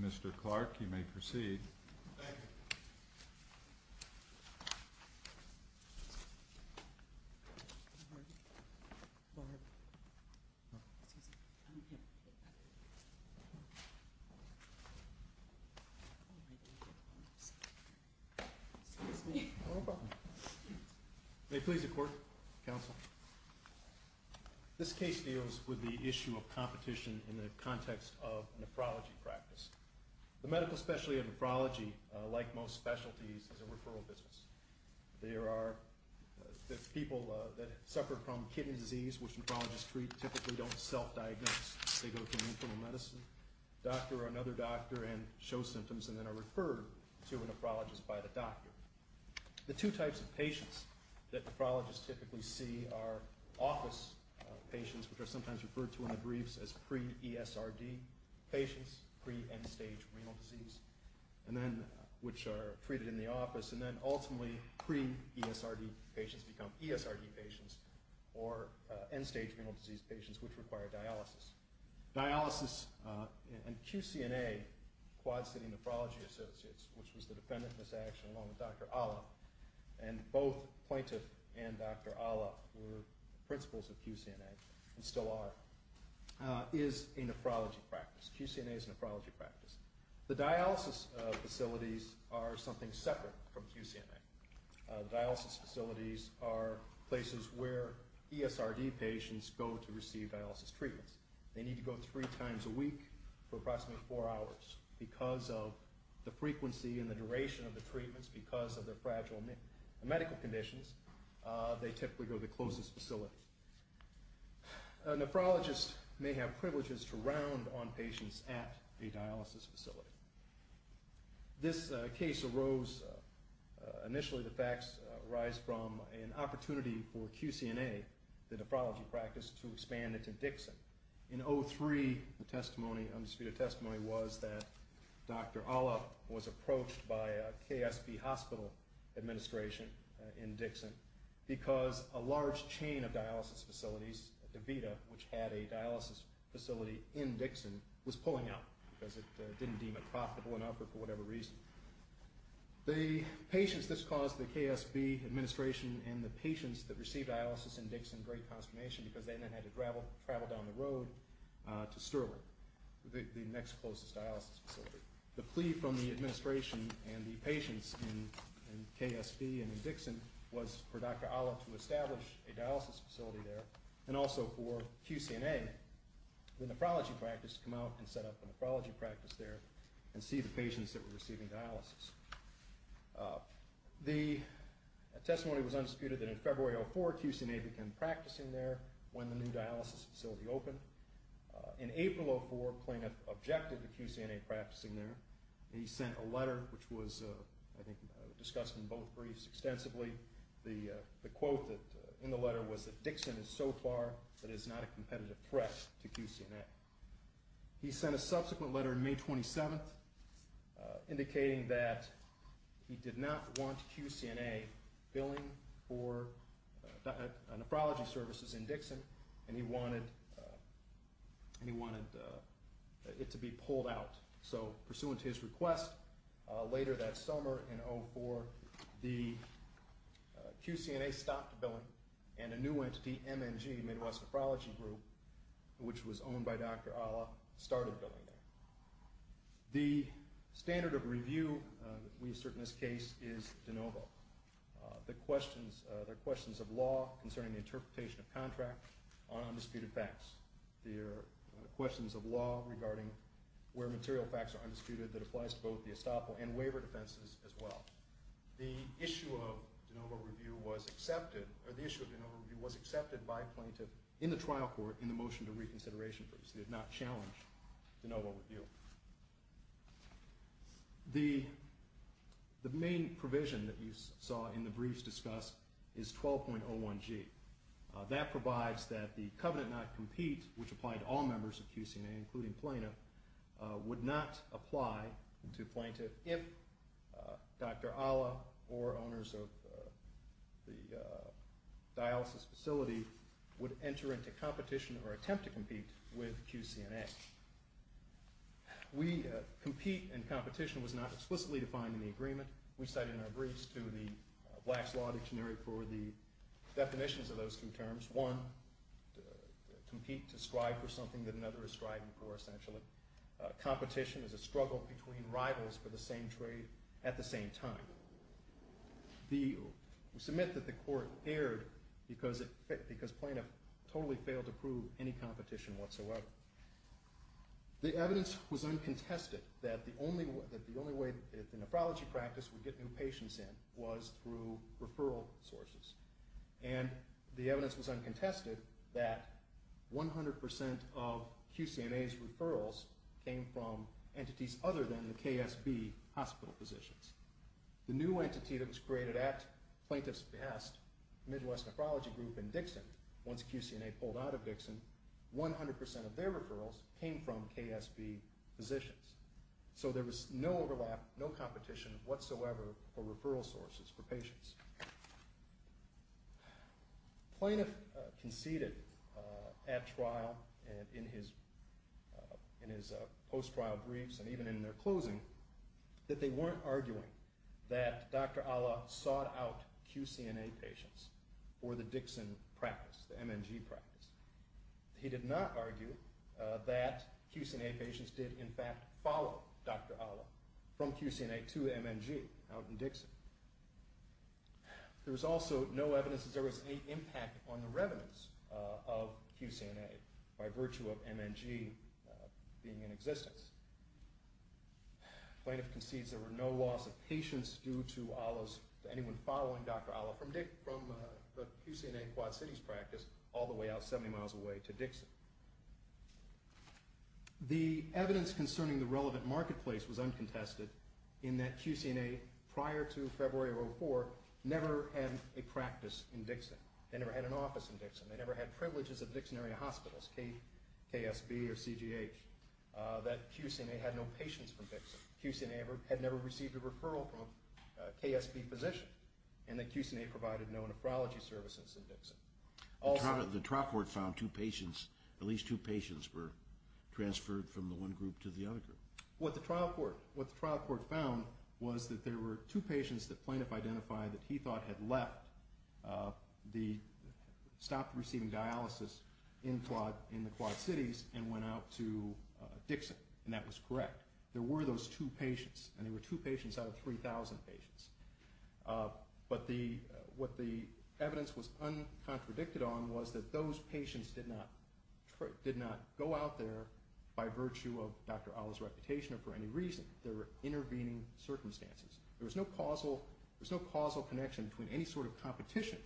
Mr. Clark you may proceed. This case deals with the issue of competition in the context of nephrology practice. The medical specialty of nephrology, like most specialties, is a referral business. There are people that suffer from kidney disease, which nephrologists treat, typically don't self-diagnose. They go to an internal medicine doctor or another doctor and show symptoms and then they're referred to a nephrologist by the doctor. The two types of patients that nephrologists typically see are office patients, which are sometimes referred to in the briefs as pre-ESRD patients, pre-end-stage renal disease, which are treated in the office, and then ultimately pre-ESRD patients become ESRD patients or end-stage renal disease patients, which require dialysis. Dialysis and QCNA, Quad City Nephrology Associates, which was the defendant in this action along with Dr. Alla, and both plaintiff and Dr. Alla were principals of QCNA and still are, is a nephrology practice. QCNA is a nephrology practice. The dialysis facilities are something separate from QCNA. Dialysis facilities are places where ESRD patients go to receive dialysis treatments. They need to go three times a week for approximately four hours. Because of the frequency and the duration of the treatments, because of their fragile medical conditions, they typically go to the closest facility. Nephrologists may have privileges to round on patients at a dialysis facility. This case arose, initially the facts arise from an opportunity for QCNA, the nephrology practice, to expand it to Dixon. In 2003, the testimony, undisputed testimony, was that Dr. Alla was approached by a KSB hospital administration in Dixon because a large chain of dialysis facilities, DaVita, which had a dialysis facility in Dixon, was pulling out because it didn't deem it profitable enough or for whatever reason. The patients that caused the KSB administration and the patients that received dialysis in Dixon, because they then had to travel down the road to Stirling, the next closest dialysis facility. The plea from the administration and the patients in KSB and in Dixon was for Dr. Alla to establish a dialysis facility there and also for QCNA, the nephrology practice, to come out and set up a nephrology practice there and see the patients that were receiving dialysis. The testimony was undisputed that in February 2004, QCNA began practicing there when the new dialysis facility opened. In April 2004, Kling objected to QCNA practicing there. He sent a letter which was, I think, discussed in both briefs extensively. The quote in the letter was that Dixon is so far that it is not a competitive threat to QCNA. He sent a subsequent letter May 27th indicating that he did not want QCNA billing for nephrology services in Dixon and he wanted it to be pulled out. So, pursuant to his request, later that summer in 04, the QCNA stopped billing and a new entity, MNG, Midwest Nephrology Group, which was owned by Dr. Alla, started billing there. The standard of review we assert in this case is de novo. There are questions of law concerning the interpretation of contract on undisputed facts. There are questions of law regarding where material facts are undisputed that applies to both the estoppel and waiver defenses as well. The issue of de novo review was accepted by plaintiff in the trial court in the motion to reconsideration. It did not challenge de novo review. The main provision that you saw in the briefs discussed is 12.01G. That provides that the covenant not compete, which applied to all members of QCNA, including Dr. Alla or owners of the dialysis facility, would enter into competition or attempt to compete with QCNA. We compete and competition was not explicitly defined in the agreement. We cited in our briefs to the Black's Law Dictionary for the definitions of those two terms. One, compete to strive for something that another is striving for, essentially. Competition is a struggle between rivals for the same trade at the same time. We submit that the court erred because plaintiff totally failed to prove any competition whatsoever. The evidence was uncontested that the only way the nephrology practice would get new patients in was through referral sources. The evidence was uncontested that 100% of QCNA's referrals came from entities other than the KSB hospital physicians. The new entity that was created at plaintiff's behest, Midwest Nephrology Group and Dixon, once QCNA pulled out of Dixon, 100% of their referrals came from KSB physicians. So there was no overlap, no competition whatsoever for referral sources for patients. Plaintiff conceded at trial and in his post-trial briefs and even in their closing that they weren't arguing that Dr. Ala sought out QCNA patients for the Dixon practice, the MNG practice. He did not argue that QCNA patients did in fact follow Dr. Ala from QCNA to MNG out in Dixon. There was also no evidence that there was any impact on the revenants of QCNA by virtue of MNG being in existence. Plaintiff concedes there were no loss of patients due to Ala's, anyone following Dr. Ala from the QCNA Quad Cities practice all the way out 70 miles away to Dixon. The evidence concerning the relevant marketplace was uncontested in that QCNA prior to February of 2004 never had a practice in Dixon. They never had an office in Dixon. They never had privileges at Dixon area hospitals, KSB or CGH. That QCNA had no patients from Dixon. QCNA had never received a referral from a KSB physician and that QCNA provided no nephrology services in Dixon. The trial court found two patients, at least two patients were transferred from the one group to the other group. What the trial court found was that there were two patients that plaintiff identified that he thought had left, stopped receiving dialysis in the Quad Cities and went out to Dixon and that was correct. There were those two patients and there were two patients out of 3,000 patients. But what the evidence was uncontradicted on was that those patients did not go out there by virtue of Dr. Ala's reputation or for any reason. There were intervening circumstances. There was no causal connection between any sort of competition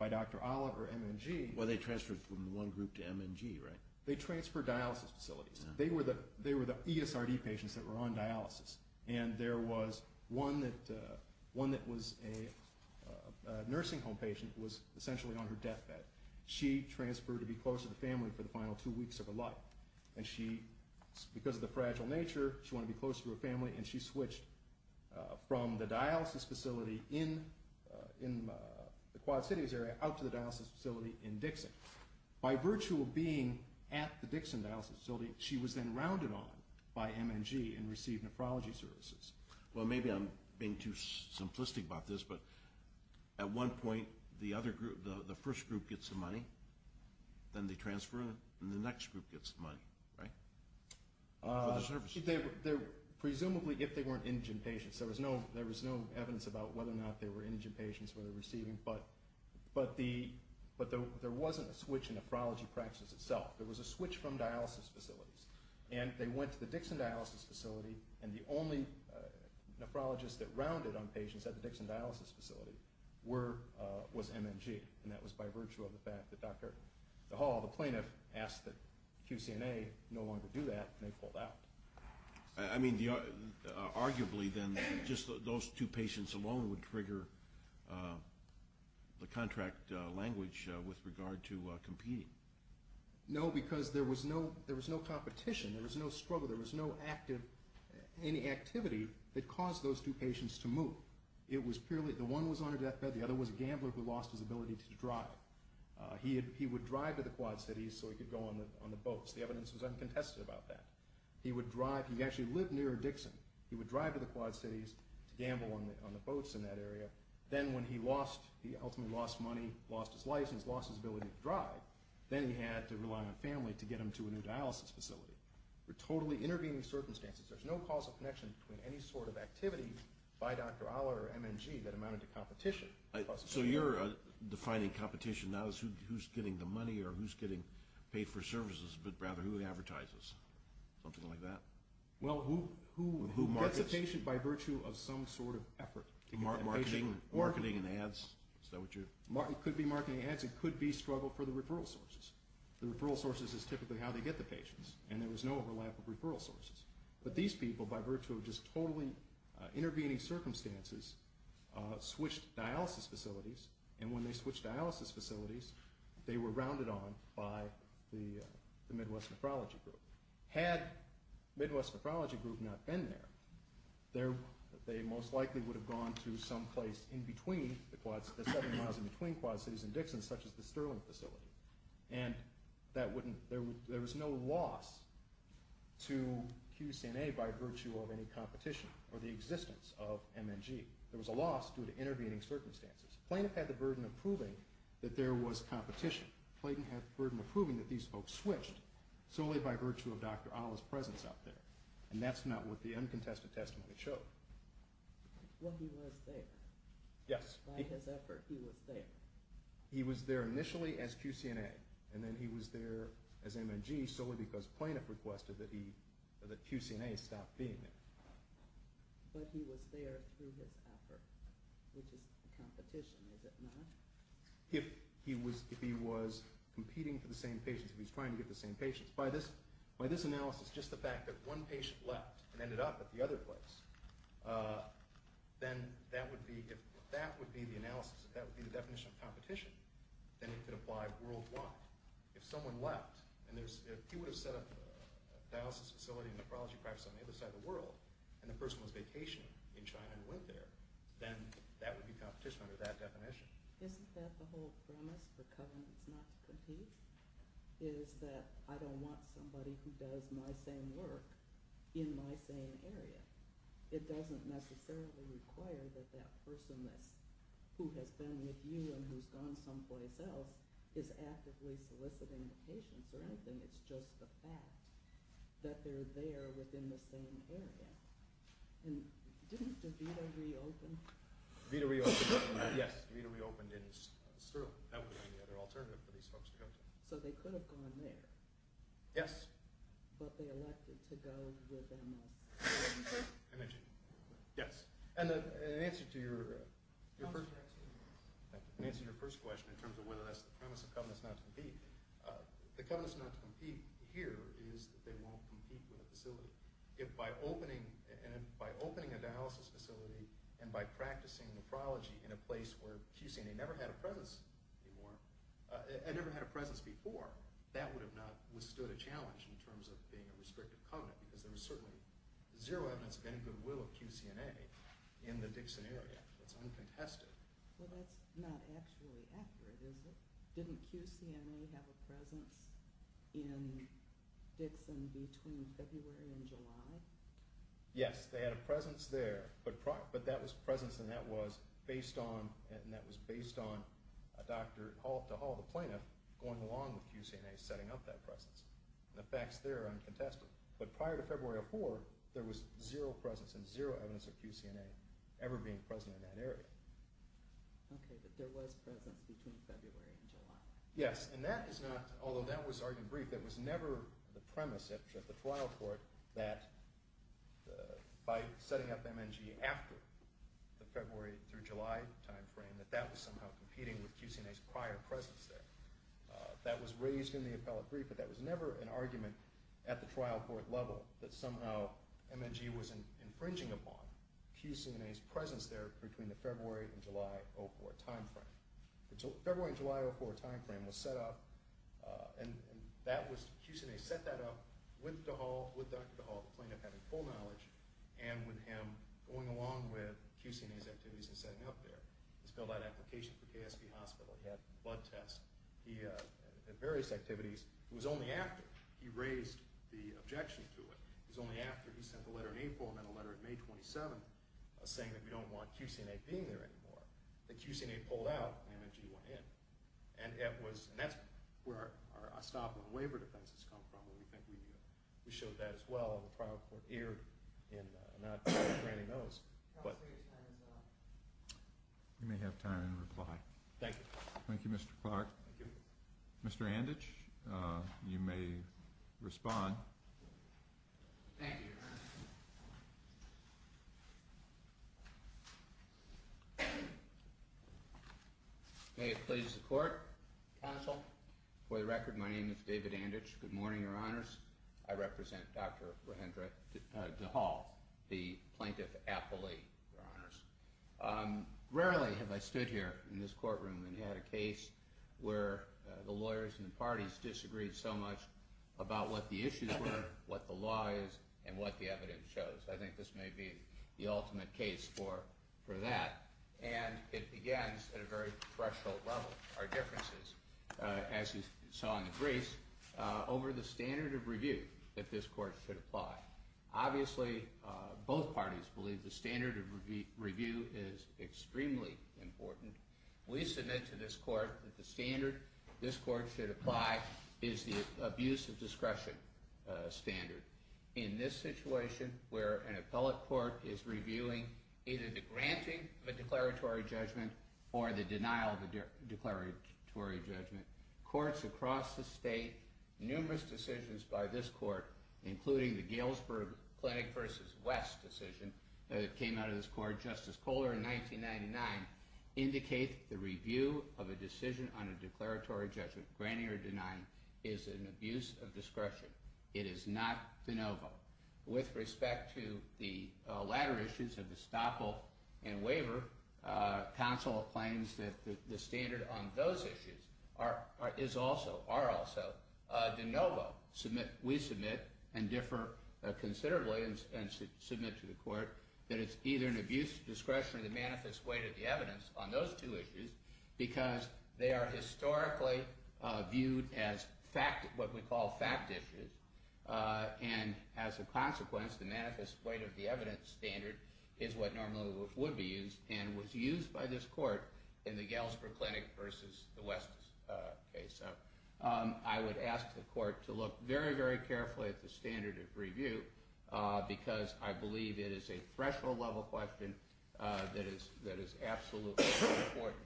by Dr. Ala or MNG. Well, they transferred from one group to MNG, right? They transferred dialysis facilities. They were the ESRD patients that were on dialysis. And there was one that was a nursing home patient who was essentially on her deathbed. She transferred to be close to the family for the final two weeks of her life. And she, because of the fragile nature, she wanted to be close to her family and she switched from the dialysis facility in the Quad Cities area out to the dialysis facility in Dixon. By virtue of being at the Dixon dialysis facility, she was then rounded on by MNG and received nephrology services. Well, maybe I'm being too simplistic about this, but at one point the first group gets the money. Then they transfer and the next group gets the money, right? For the services. Presumably if they weren't indigent patients. There was no evidence about whether or not they were indigent patients when they were receiving. But there wasn't a switch in nephrology practice itself. There was a switch from dialysis facilities. And they went to the Dixon dialysis facility and the only nephrologist that rounded on patients at the Dixon dialysis facility was MNG. And that was by virtue of the fact that Dr. DeHaul, the plaintiff, asked that QCNA no longer do that and they pulled out. I mean, arguably then just those two patients alone would trigger the contract language with regard to competing. No, because there was no competition. There was no struggle. There was no activity that caused those two patients to move. The one was on her deathbed. The other was a gambler who lost his ability to drive. He would drive to the Quad Cities so he could go on the boats. The evidence was uncontested about that. He would drive. He actually lived near Dixon. He would drive to the Quad Cities to gamble on the boats in that area. Then when he ultimately lost money, lost his license, lost his ability to drive, then he had to rely on family to get him to a new dialysis facility. We're totally intervening circumstances. There's no causal connection between any sort of activity by Dr. Ahler or MNG that amounted to competition. So you're defining competition now as who's getting the money or who's getting paid for services, but rather who advertises, something like that? Well, who gets a patient by virtue of some sort of effort? Marketing and ads? It could be marketing and ads. It could be struggle for the referral sources. The referral sources is typically how they get the patients, and there was no overlap of referral sources. But these people, by virtue of just totally intervening circumstances, switched dialysis facilities, and when they switched dialysis facilities, they were rounded on by the Midwest Nephrology Group. Had Midwest Nephrology Group not been there, they most likely would have gone to some place in between, the seven miles in between Quad Cities and Dixon, such as the Sterling facility. And there was no loss to QCNA by virtue of any competition or the existence of MNG. There was a loss due to intervening circumstances. Plaintiff had the burden of proving that there was competition. Plaintiff had the burden of proving that these folks switched solely by virtue of Dr. Ahler's presence out there. And that's not what the uncontested testimony showed. Well, he was there. Yes. By his effort, he was there. He was there initially as QCNA, and then he was there as MNG solely because Plaintiff requested that QCNA stop being there. But he was there through his effort, which is competition, is it not? If he was competing for the same patients, if he was trying to get the same patients, by this analysis, just the fact that one patient left and ended up at the other place, then that would be, if that would be the analysis, if that would be the definition of competition, then it could apply worldwide. If someone left and there's, if he would have set up a dialysis facility and nephrology practice on the other side of the world and the person was vacationing in China and went there, then that would be competition under that definition. Isn't that the whole premise for covenants not to compete? Is that I don't want somebody who does my same work in my same area. It doesn't necessarily require that that person who has been with you and who's gone someplace else is actively soliciting the patients or anything. It's just the fact that they're there within the same area. And didn't DeVita reopen? DeVita reopened, yes. DeVita reopened in Sterling. That would be the other alternative for these folks to go to. So they could have gone there. Yes. But they elected to go with MS. Yes. And in answer to your first question in terms of whether that's the premise of covenants not to compete, the covenants not to compete here is that they won't compete with a facility. If by opening a dialysis facility and by practicing nephrology in a place where, QCNA never had a presence before, that would have not withstood a challenge in terms of being a restrictive covenant because there was certainly zero evidence of any goodwill of QCNA in the Dixon area. It's uncontested. Well, that's not actually accurate, is it? Didn't QCNA have a presence in Dixon between February and July? Yes, they had a presence there. But that was presence and that was based on a doctor to haul the plaintiff going along with QCNA setting up that presence. And the facts there are uncontested. But prior to February 4, there was zero presence and zero evidence of QCNA ever being present in that area. Okay, but there was presence between February and July. Yes, and that is not, although that was argued brief, that was never the premise at the trial court that by setting up MNG after the February through July timeframe, that that was somehow competing with QCNA's prior presence there. That was raised in the appellate brief, but that was never an argument at the trial court level that somehow MNG was infringing upon QCNA's presence there between the February and July 04 timeframe. The February and July 04 timeframe was set up, and QCNA set that up with Dr. DeHaul, the plaintiff having full knowledge, and with him going along with QCNA's activities and setting up there. He's got a lot of application for KSP Hospital. He had blood tests. He had various activities. It was only after he raised the objection to it, it was only after he sent a letter in April and then a letter in May 27 saying that we don't want QCNA being there anymore, that QCNA pulled out and MNG went in. And that's where our estoppel and waiver defense has come from, what we think we do. We showed that as well at the trial court, aired, and I don't know if Randy knows. We may have time in reply. Thank you. Thank you, Mr. Clark. Thank you. Mr. Anditch, you may respond. Thank you. May it please the court, counsel. For the record, my name is David Anditch. Good morning, Your Honors. I represent Dr. Rehendra DeHaul, the plaintiff appellee, Your Honors. Rarely have I stood here in this courtroom and had a case where the lawyers and the parties disagreed so much about what the issues were, what the law is, and what the evidence shows. I think this may be the ultimate case for that. And it begins at a very threshold level, our differences, as you saw in the briefs, over the standard of review that this court should apply. Obviously, both parties believe the standard of review is extremely important. We submit to this court that the standard this court should apply is the abuse of discretion standard. In this situation, where an appellate court is reviewing either the granting of a declaratory judgment or the denial of a declaratory judgment, courts across the state, numerous decisions by this court, including the Galesburg Clinic v. West decision that came out of this court, Justice Kohler, in 1999, indicate the review of a decision on a declaratory judgment, granting or denying, is an abuse of discretion. It is not de novo. With respect to the latter issues of the Staple and Waver, counsel claims that the standard on those issues are also de novo. We submit and differ considerably and submit to the court that it's either an abuse of discretion or the manifest weight of the evidence on those two issues because they are historically viewed as what we call fact issues, and as a consequence, the manifest weight of the evidence standard is what normally would be used and was used by this court in the Galesburg Clinic v. the West case. I would ask the court to look very, very carefully at the standard of review because I believe it is a threshold level question that is absolutely important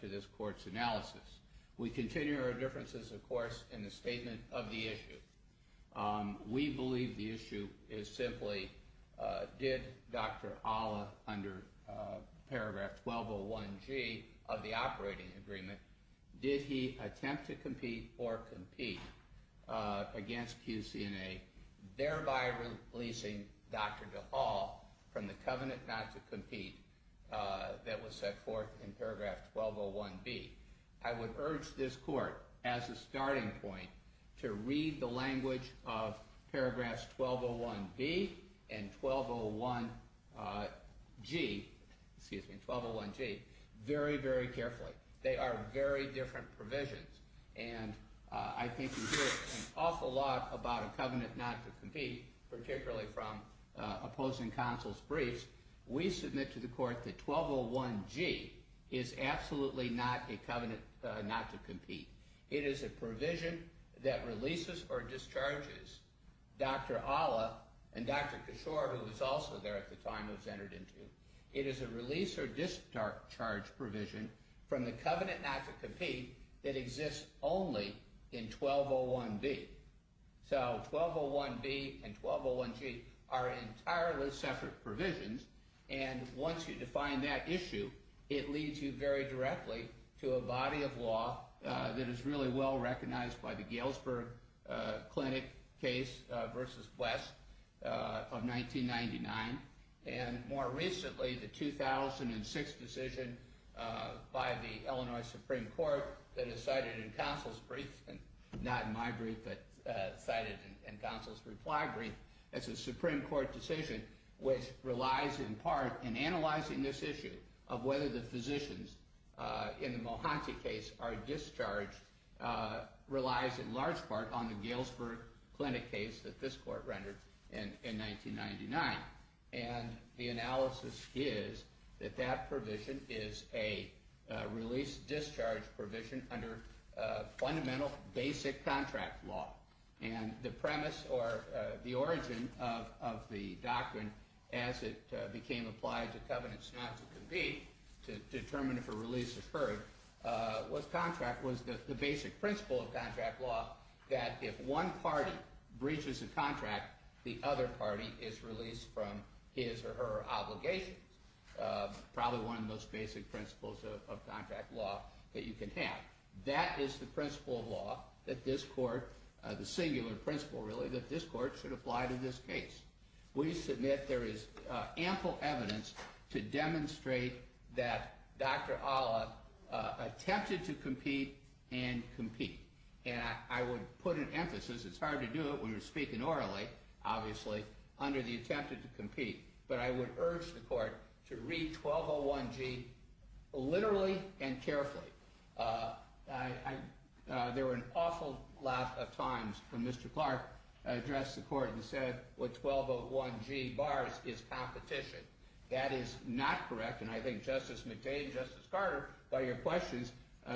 to this court's analysis. We continue our differences, of course, in the statement of the issue. We believe the issue is simply did Dr. Ala, under paragraph 1201G of the operating agreement, did he attempt to compete or compete against QCNA, thereby releasing Dr. DeHaul from the covenant not to compete that was set forth in paragraph 1201B. I would urge this court, as a starting point, to read the language of paragraphs 1201B and 1201G very, very carefully. They are very different provisions, and I think you hear an awful lot about a covenant not to compete, particularly from opposing counsel's briefs. We submit to the court that 1201G is absolutely not a covenant not to compete. It is a provision that releases or discharges Dr. Ala and Dr. Cashore, who was also there at the time and was entered into. It is a release or discharge provision from the covenant not to compete that exists only in 1201B. So 1201B and 1201G are entirely separate provisions, and once you define that issue, it leads you very directly to a body of law that is really well recognized by the Galesburg Clinic case versus West of 1999. And more recently, the 2006 decision by the Illinois Supreme Court that is cited in counsel's brief, not in my brief, but cited in counsel's reply brief, it's a Supreme Court decision which relies in part in analyzing this issue of whether the physicians in the Mohanty case are discharged relies in large part on the Galesburg Clinic case that this court rendered in 1999. And the analysis is that that provision is a release-discharge provision under fundamental basic contract law. And the premise or the origin of the doctrine as it became applied to covenants not to compete to determine if a release occurred was contract, was the basic principle of contract law that if one party breaches a contract, the other party is released from his or her obligations. Probably one of the most basic principles of contract law that you can have. That is the principle of law that this court, the singular principle really, that this court should apply to this case. We submit there is ample evidence to demonstrate that Dr. Olive attempted to compete and compete. And I would put an emphasis, it's hard to do it when you're speaking orally, obviously, under the attempted to compete. But I would urge the court to read 1201G literally and carefully. There were an awful lot of times when Mr. Clark addressed the court and said what 1201G bars is competition. That is not correct. And I think Justice McCain, Justice Carter, by your questions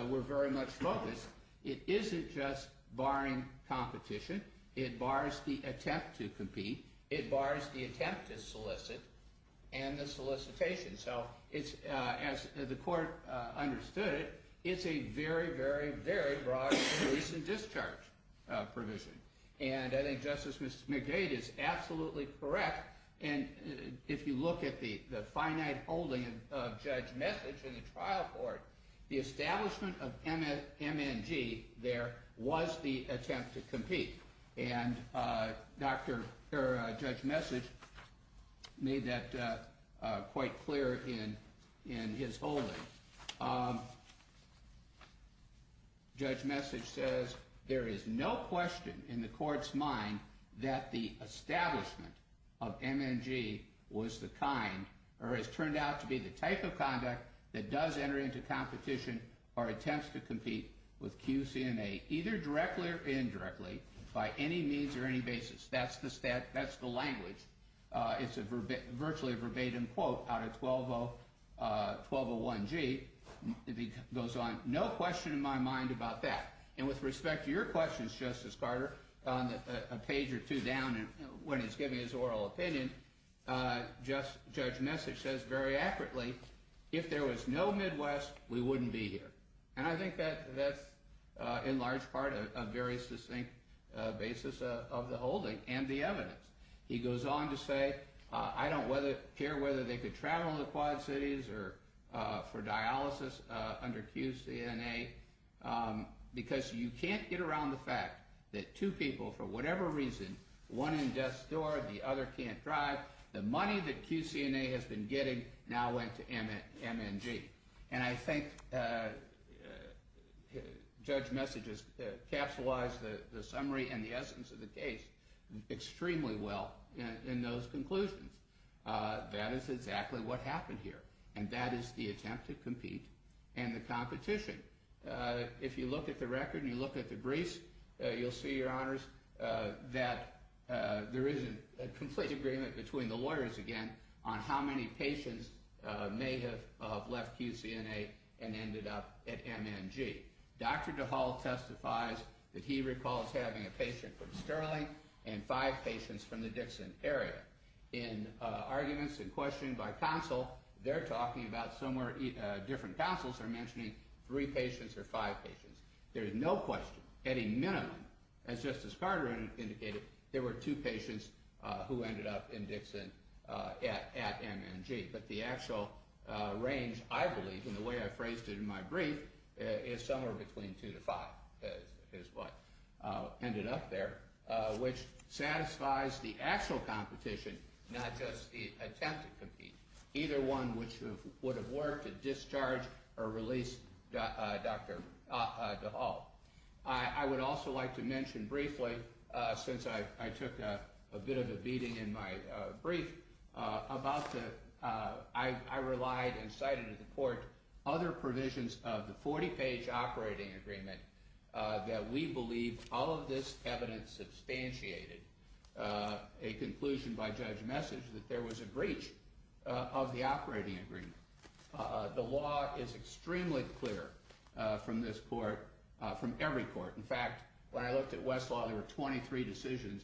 were very much focused. It isn't just barring competition. It bars the attempt to compete. It bars the attempt to solicit and the solicitation. So as the court understood it, it's a very, very, very broad release and discharge provision. And I think Justice McGade is absolutely correct. And if you look at the finite holding of Judge Message in the trial court, the establishment of MNG there was the attempt to compete. And Judge Message made that quite clear in his holding. Judge Message says there is no question in the court's mind that the establishment of MNG was the kind or has turned out to be the type of conduct that does enter into competition or attempts to compete with QCMA, either directly or indirectly, by any means or any basis. That's the language. It's virtually a verbatim quote out of 1201G. It goes on, no question in my mind about that. And with respect to your questions, Justice Carter, on a page or two down when he's giving his oral opinion, Judge Message says very accurately, if there was no Midwest, we wouldn't be here. And I think that's, in large part, a very succinct basis of the holding and the evidence. He goes on to say, I don't care whether they could travel to the Quad Cities or for dialysis under QCMA because you can't get around the fact that two people, for whatever reason, one in death's door, the other can't drive, the money that QCMA has been getting now went to MNG. And I think Judge Message has capsulized the summary and the essence of the case extremely well in those conclusions. That is exactly what happened here, and that is the attempt to compete and the competition. If you look at the record and you look at the briefs, you'll see, Your Honors, that there is a complete agreement between the lawyers, again, on how many patients may have left QCMA and ended up at MNG. Dr. DeHaul testifies that he recalls having a patient from Sterling and five patients from the Dixon area. In arguments and questioning by counsel, they're talking about somewhere different counsels are mentioning three patients or five patients. There is no question, at a minimum, as Justice Carter indicated, there were two patients who ended up in Dixon at MNG. But the actual range, I believe, in the way I phrased it in my brief, is somewhere between two to five is what ended up there, which satisfies the actual competition, not just the attempt to compete. Either one would have worked to discharge or release Dr. DeHaul. I would also like to mention briefly, since I took a bit of a beating in my brief, I relied and cited in the court other provisions of the 40-page operating agreement that we believe all of this evidence substantiated a conclusion by Judge Message that there was a breach of the operating agreement. The law is extremely clear from this court, from every court. In fact, when I looked at Westlaw, there were 23 decisions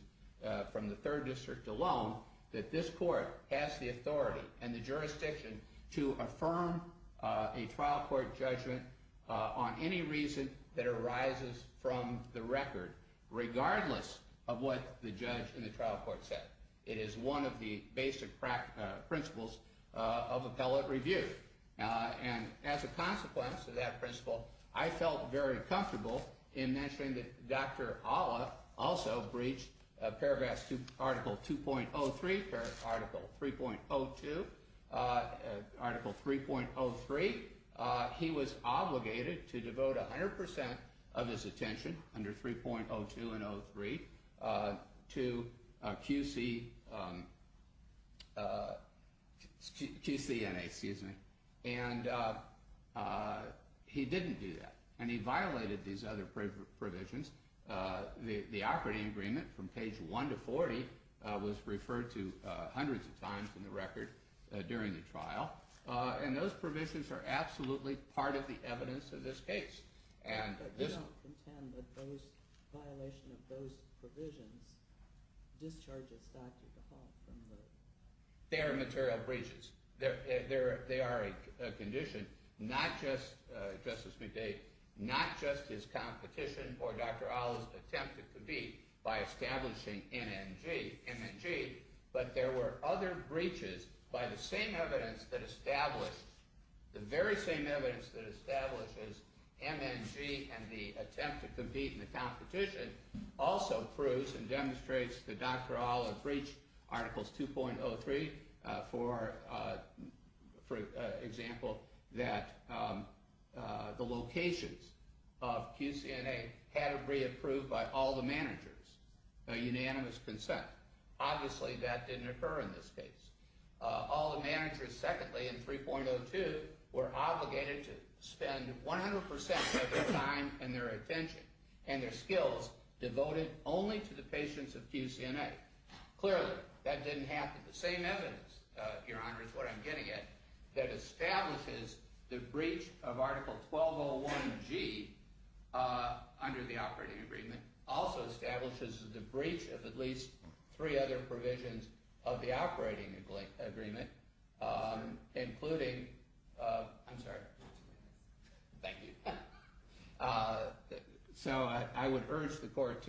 from the third district alone that this court has the authority and the jurisdiction to affirm a trial court judgment on any reason that arises from the record, regardless of what the judge in the trial court said. It is one of the basic principles of appellate review. As a consequence of that principle, I felt very comfortable in mentioning that Dr. Alla also breached Paragraphs 2.03, Article 3.02, Article 3.03. He was obligated to devote 100% of his attention under 3.02 and 3.03 to QCNA, and he didn't do that. He violated these other provisions. The operating agreement from page 1 to 40 was referred to hundreds of times in the record during the trial. And those provisions are absolutely part of the evidence of this case. But you don't contend that violation of those provisions discharges Dr. DeHaal from the… They are material breaches. They are a condition, not just, Justice McDade, not just his competition or Dr. Alla's attempt at the beat by establishing MNG, but there were other breaches by the same evidence that established, the very same evidence that establishes MNG and the attempt to compete in the competition, also proves and demonstrates that Dr. Alla breached Articles 2.03, for example, that the locations of QCNA had to be approved by all the managers. A unanimous consent. Obviously, that didn't occur in this case. All the managers, secondly, in 3.02 were obligated to spend 100% of their time and their attention and their skills devoted only to the patients of QCNA. Clearly, that didn't happen. The same evidence, Your Honor, is what I'm getting at, that establishes the breach of Article 1201G under the operating agreement, also establishes the breach of at least three other provisions of the operating agreement, including… I'm sorry. Thank you. So, I would urge the court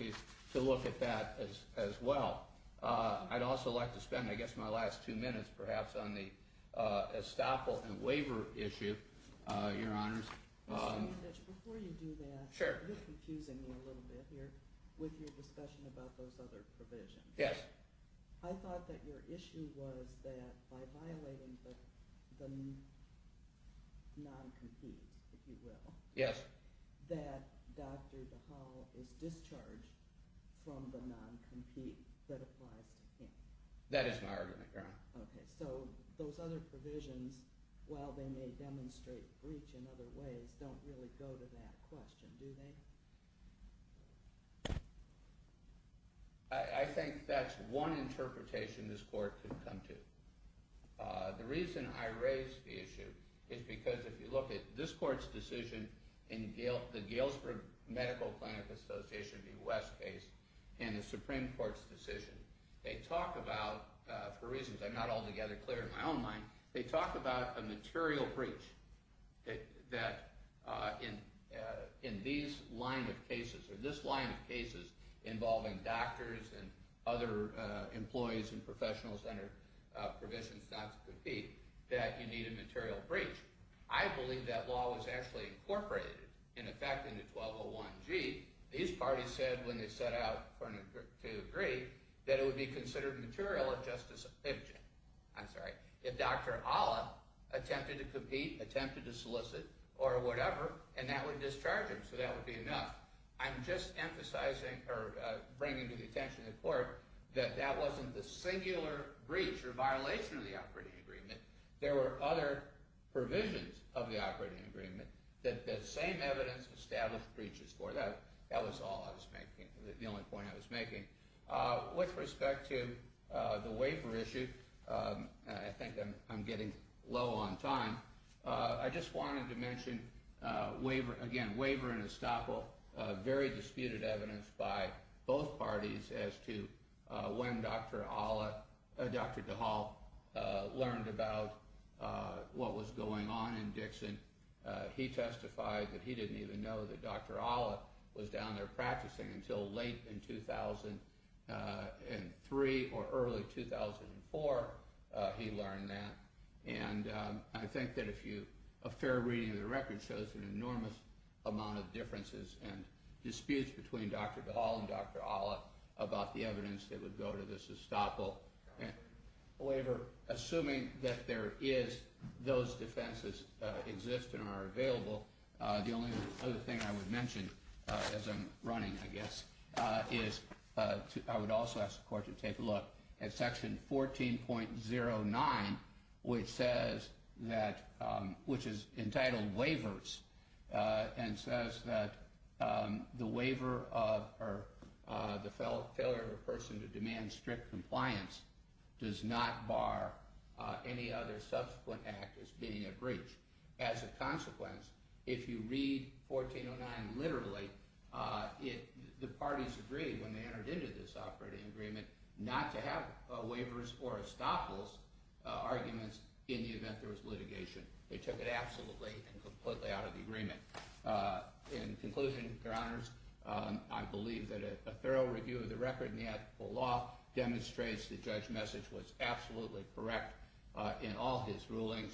to look at that as well. I'd also like to spend, I guess, my last two minutes, perhaps, on the estoppel and waiver issue, Your Honors. Before you do that, you're confusing me a little bit here with your discussion about those other provisions. Yes. I thought that your issue was that by violating the non-compete, if you will, that Dr. DeHaal is discharged from the non-compete that applies to him. That is my argument, Your Honor. Okay. So, those other provisions, while they may demonstrate breach in other ways, don't really go to that question, do they? I think that's one interpretation this court could come to. The reason I raise the issue is because if you look at this court's decision in the Galesburg Medical Clinic Association v. West case and the Supreme Court's decision, they talk about, for reasons I'm not altogether clear in my own mind, they talk about a material breach that in these line of cases or this line of cases involving doctors and other employees and professionals under provisions not to compete, that you need a material breach. I believe that law was actually incorporated, in effect, into 1201G. These parties said, when they set out to agree, that it would be considered material if Dr. Ala attempted to compete, attempted to solicit, or whatever, and that would discharge him, so that would be enough. I'm just emphasizing or bringing to the attention of the court that that wasn't the singular breach or violation of the operating agreement. There were other provisions of the operating agreement that the same evidence established breaches for. That was all I was making, the only point I was making. With respect to the waiver issue, I think I'm getting low on time, I just wanted to mention, again, waiver and estoppel, very disputed evidence by both parties as to when Dr. DeHaal learned about what was going on in Dixon. He testified that he didn't even know that Dr. Ala was down there practicing until late in 2003 or early 2004, he learned that. I think that a fair reading of the record shows an enormous amount of differences and disputes between Dr. DeHaal and Dr. Ala about the evidence that would go to this estoppel waiver. Assuming that those defenses exist and are available, the only other thing I would mention as I'm running, I guess, I would also ask the court to take a look at section 14.09, which is entitled waivers, and says that the failure of a person to demand strict compliance does not bar any other subsequent act as being a breach. As a consequence, if you read 14.09 literally, the parties agreed when they entered into this operating agreement not to have waivers or estoppels arguments in the event there was litigation. They took it absolutely and completely out of the agreement. In conclusion, your honors, I believe that a thorough review of the record and the ethical law demonstrates the judge's message was absolutely correct in all his rulings.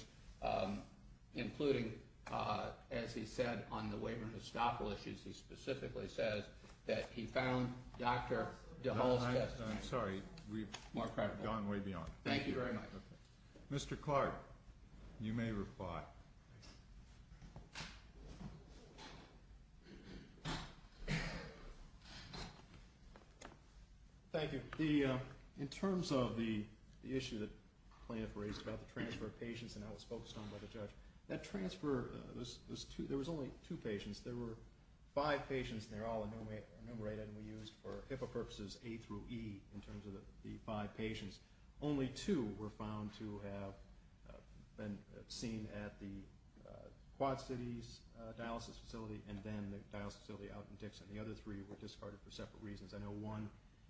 Including, as he said, on the waiver and estoppel issues, he specifically says that he found Dr. DeHaal's testimony more credible. Thank you very much. Mr. Clark, you may reply. Thank you. In terms of the issue that the plaintiff raised about the transfer of patients and how it was focused on by the judge, that transfer, there was only two patients. There were five patients and they were all enumerated and we used for HIPAA purposes A through E in terms of the five patients. Only two were found to have been seen at the Quad Cities dialysis facility and then the dialysis facility out in Dixon. The other three were discarded for separate reasons. I know one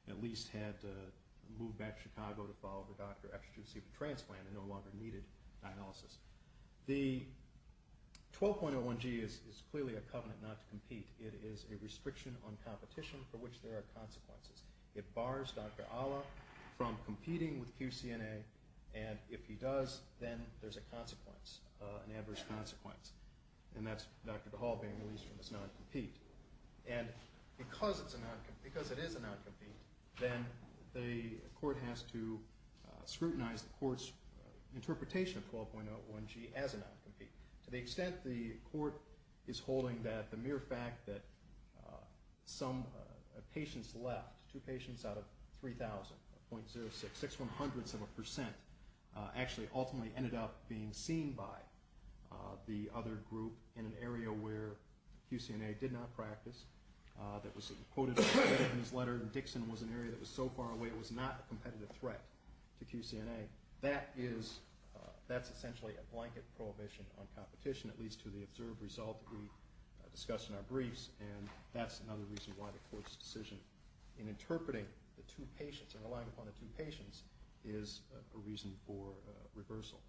at least had to move back to Chicago to follow the doctor after receiving the transplant and no longer needed dialysis. The 12.01G is clearly a covenant not to compete. It is a restriction on competition for which there are consequences. It bars Dr. Ala from competing with QCNA and if he does, then there's a consequence, an adverse consequence. And that's Dr. DeHaal being released from his non-compete. And because it is a non-compete, then the court has to scrutinize the court's interpretation of 12.01G as a non-compete. To the extent the court is holding that the mere fact that some patients left, two patients out of 3,000, .06, six one hundredths of a percent, actually ultimately ended up being seen by the other group in an area where QCNA did not practice, that was quoted in his letter and Dixon was an area that was so far away it was not a competitive threat to QCNA. That is essentially a blanket prohibition on competition, at least to the observed result that we discussed in our briefs. And that's another reason why the court's decision in interpreting the two patients and relying upon the two patients is a reason for reversal.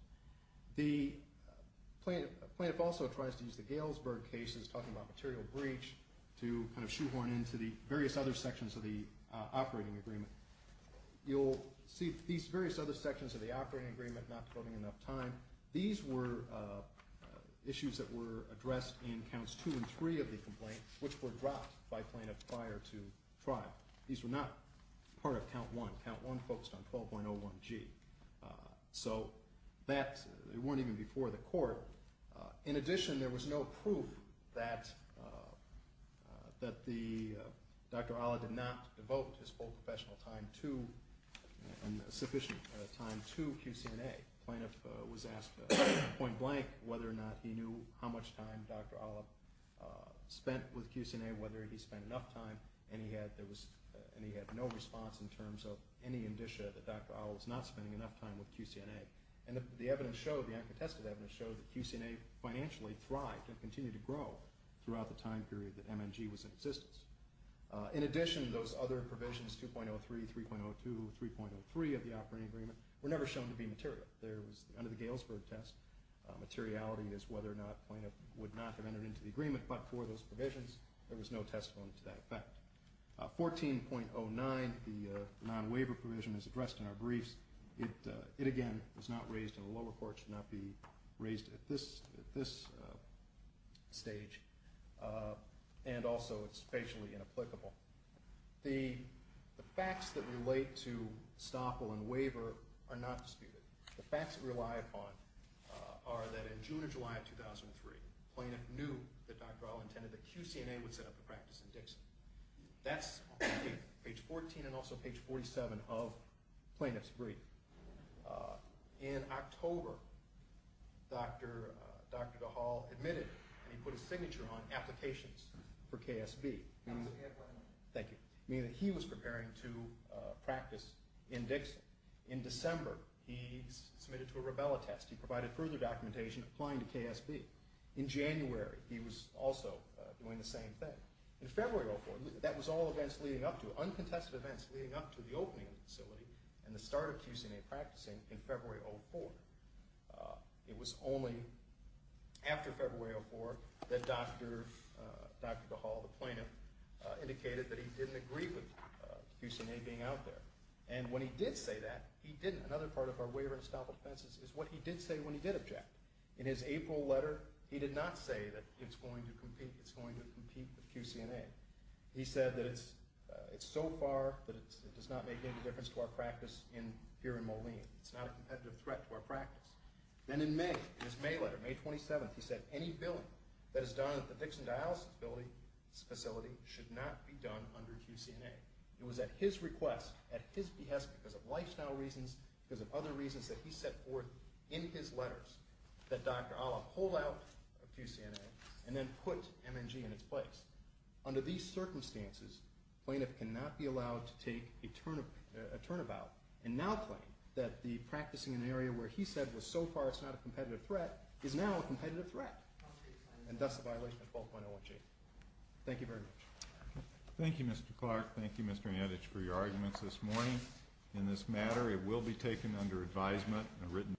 The plaintiff also tries to use the Galesburg cases, talking about material breach, to kind of shoehorn into the various other sections of the operating agreement. You'll see these various other sections of the operating agreement, not devoting enough time. These were issues that were addressed in counts two and three of the complaint, which were dropped by plaintiffs prior to trial. These were not part of count one. Count one focused on 12.01G. So that, it weren't even before the court. In addition, there was no proof that Dr. Ala did not devote his full professional time to, sufficient time, to QCNA. The plaintiff was asked point blank whether or not he knew how much time Dr. Ala spent with QCNA, whether he spent enough time, and he had no response in terms of any indicia that Dr. Ala was not spending enough time with QCNA. And the uncontested evidence showed that QCNA financially thrived and continued to grow throughout the time period that MNG was in existence. In addition, those other provisions, 2.03, 3.02, 3.03 of the operating agreement, were never shown to be material. Under the Galesburg test, materiality is whether or not a plaintiff would not have entered into the agreement. But for those provisions, there was no testimony to that effect. 14.09, the non-waiver provision, is addressed in our briefs. It, again, was not raised in the lower court, should not be raised at this stage. And also, it's facially inapplicable. The facts that relate to Staple and waiver are not disputed. The facts we rely upon are that in June or July of 2003, the plaintiff knew that Dr. Ala intended that QCNA would set up a practice in Dixon. That's on page 14 and also page 47 of the plaintiff's brief. In October, Dr. DeHaul admitted and he put his signature on applications for KSB. Thank you. Meaning that he was preparing to practice in Dixon. In December, he submitted to a rubella test. He provided further documentation applying to KSB. In January, he was also doing the same thing. In February of 2004, that was all events leading up to, uncontested events leading up to, the opening of the facility and the start of QCNA practicing in February of 2004. It was only after February of 2004 that Dr. DeHaul, the plaintiff, indicated that he didn't agree with QCNA being out there. And when he did say that, he didn't. Another part of our waiver to stop offenses is what he did say when he did object. In his April letter, he did not say that it's going to compete. It's going to compete with QCNA. He said that it's so far that it does not make any difference to our practice here in Moline. It's not a competitive threat to our practice. And in May, in his May letter, May 27th, he said, any billing that is done at the Dixon Dialysis Facility should not be done under QCNA. It was at his request, at his behest, because of lifestyle reasons, because of other reasons that he set forth in his letters, that Dr. DeHaul pull out of QCNA and then put MNG in its place. Under these circumstances, plaintiff cannot be allowed to take a turnabout and now claim that the practicing in an area where he said was so far it's not a competitive threat is now a competitive threat. And thus the violation of 12.01G. Thank you very much. Thank you, Mr. Clark. Thank you, Mr. Adich, for your arguments this morning. In this matter, it will be taken under advisement.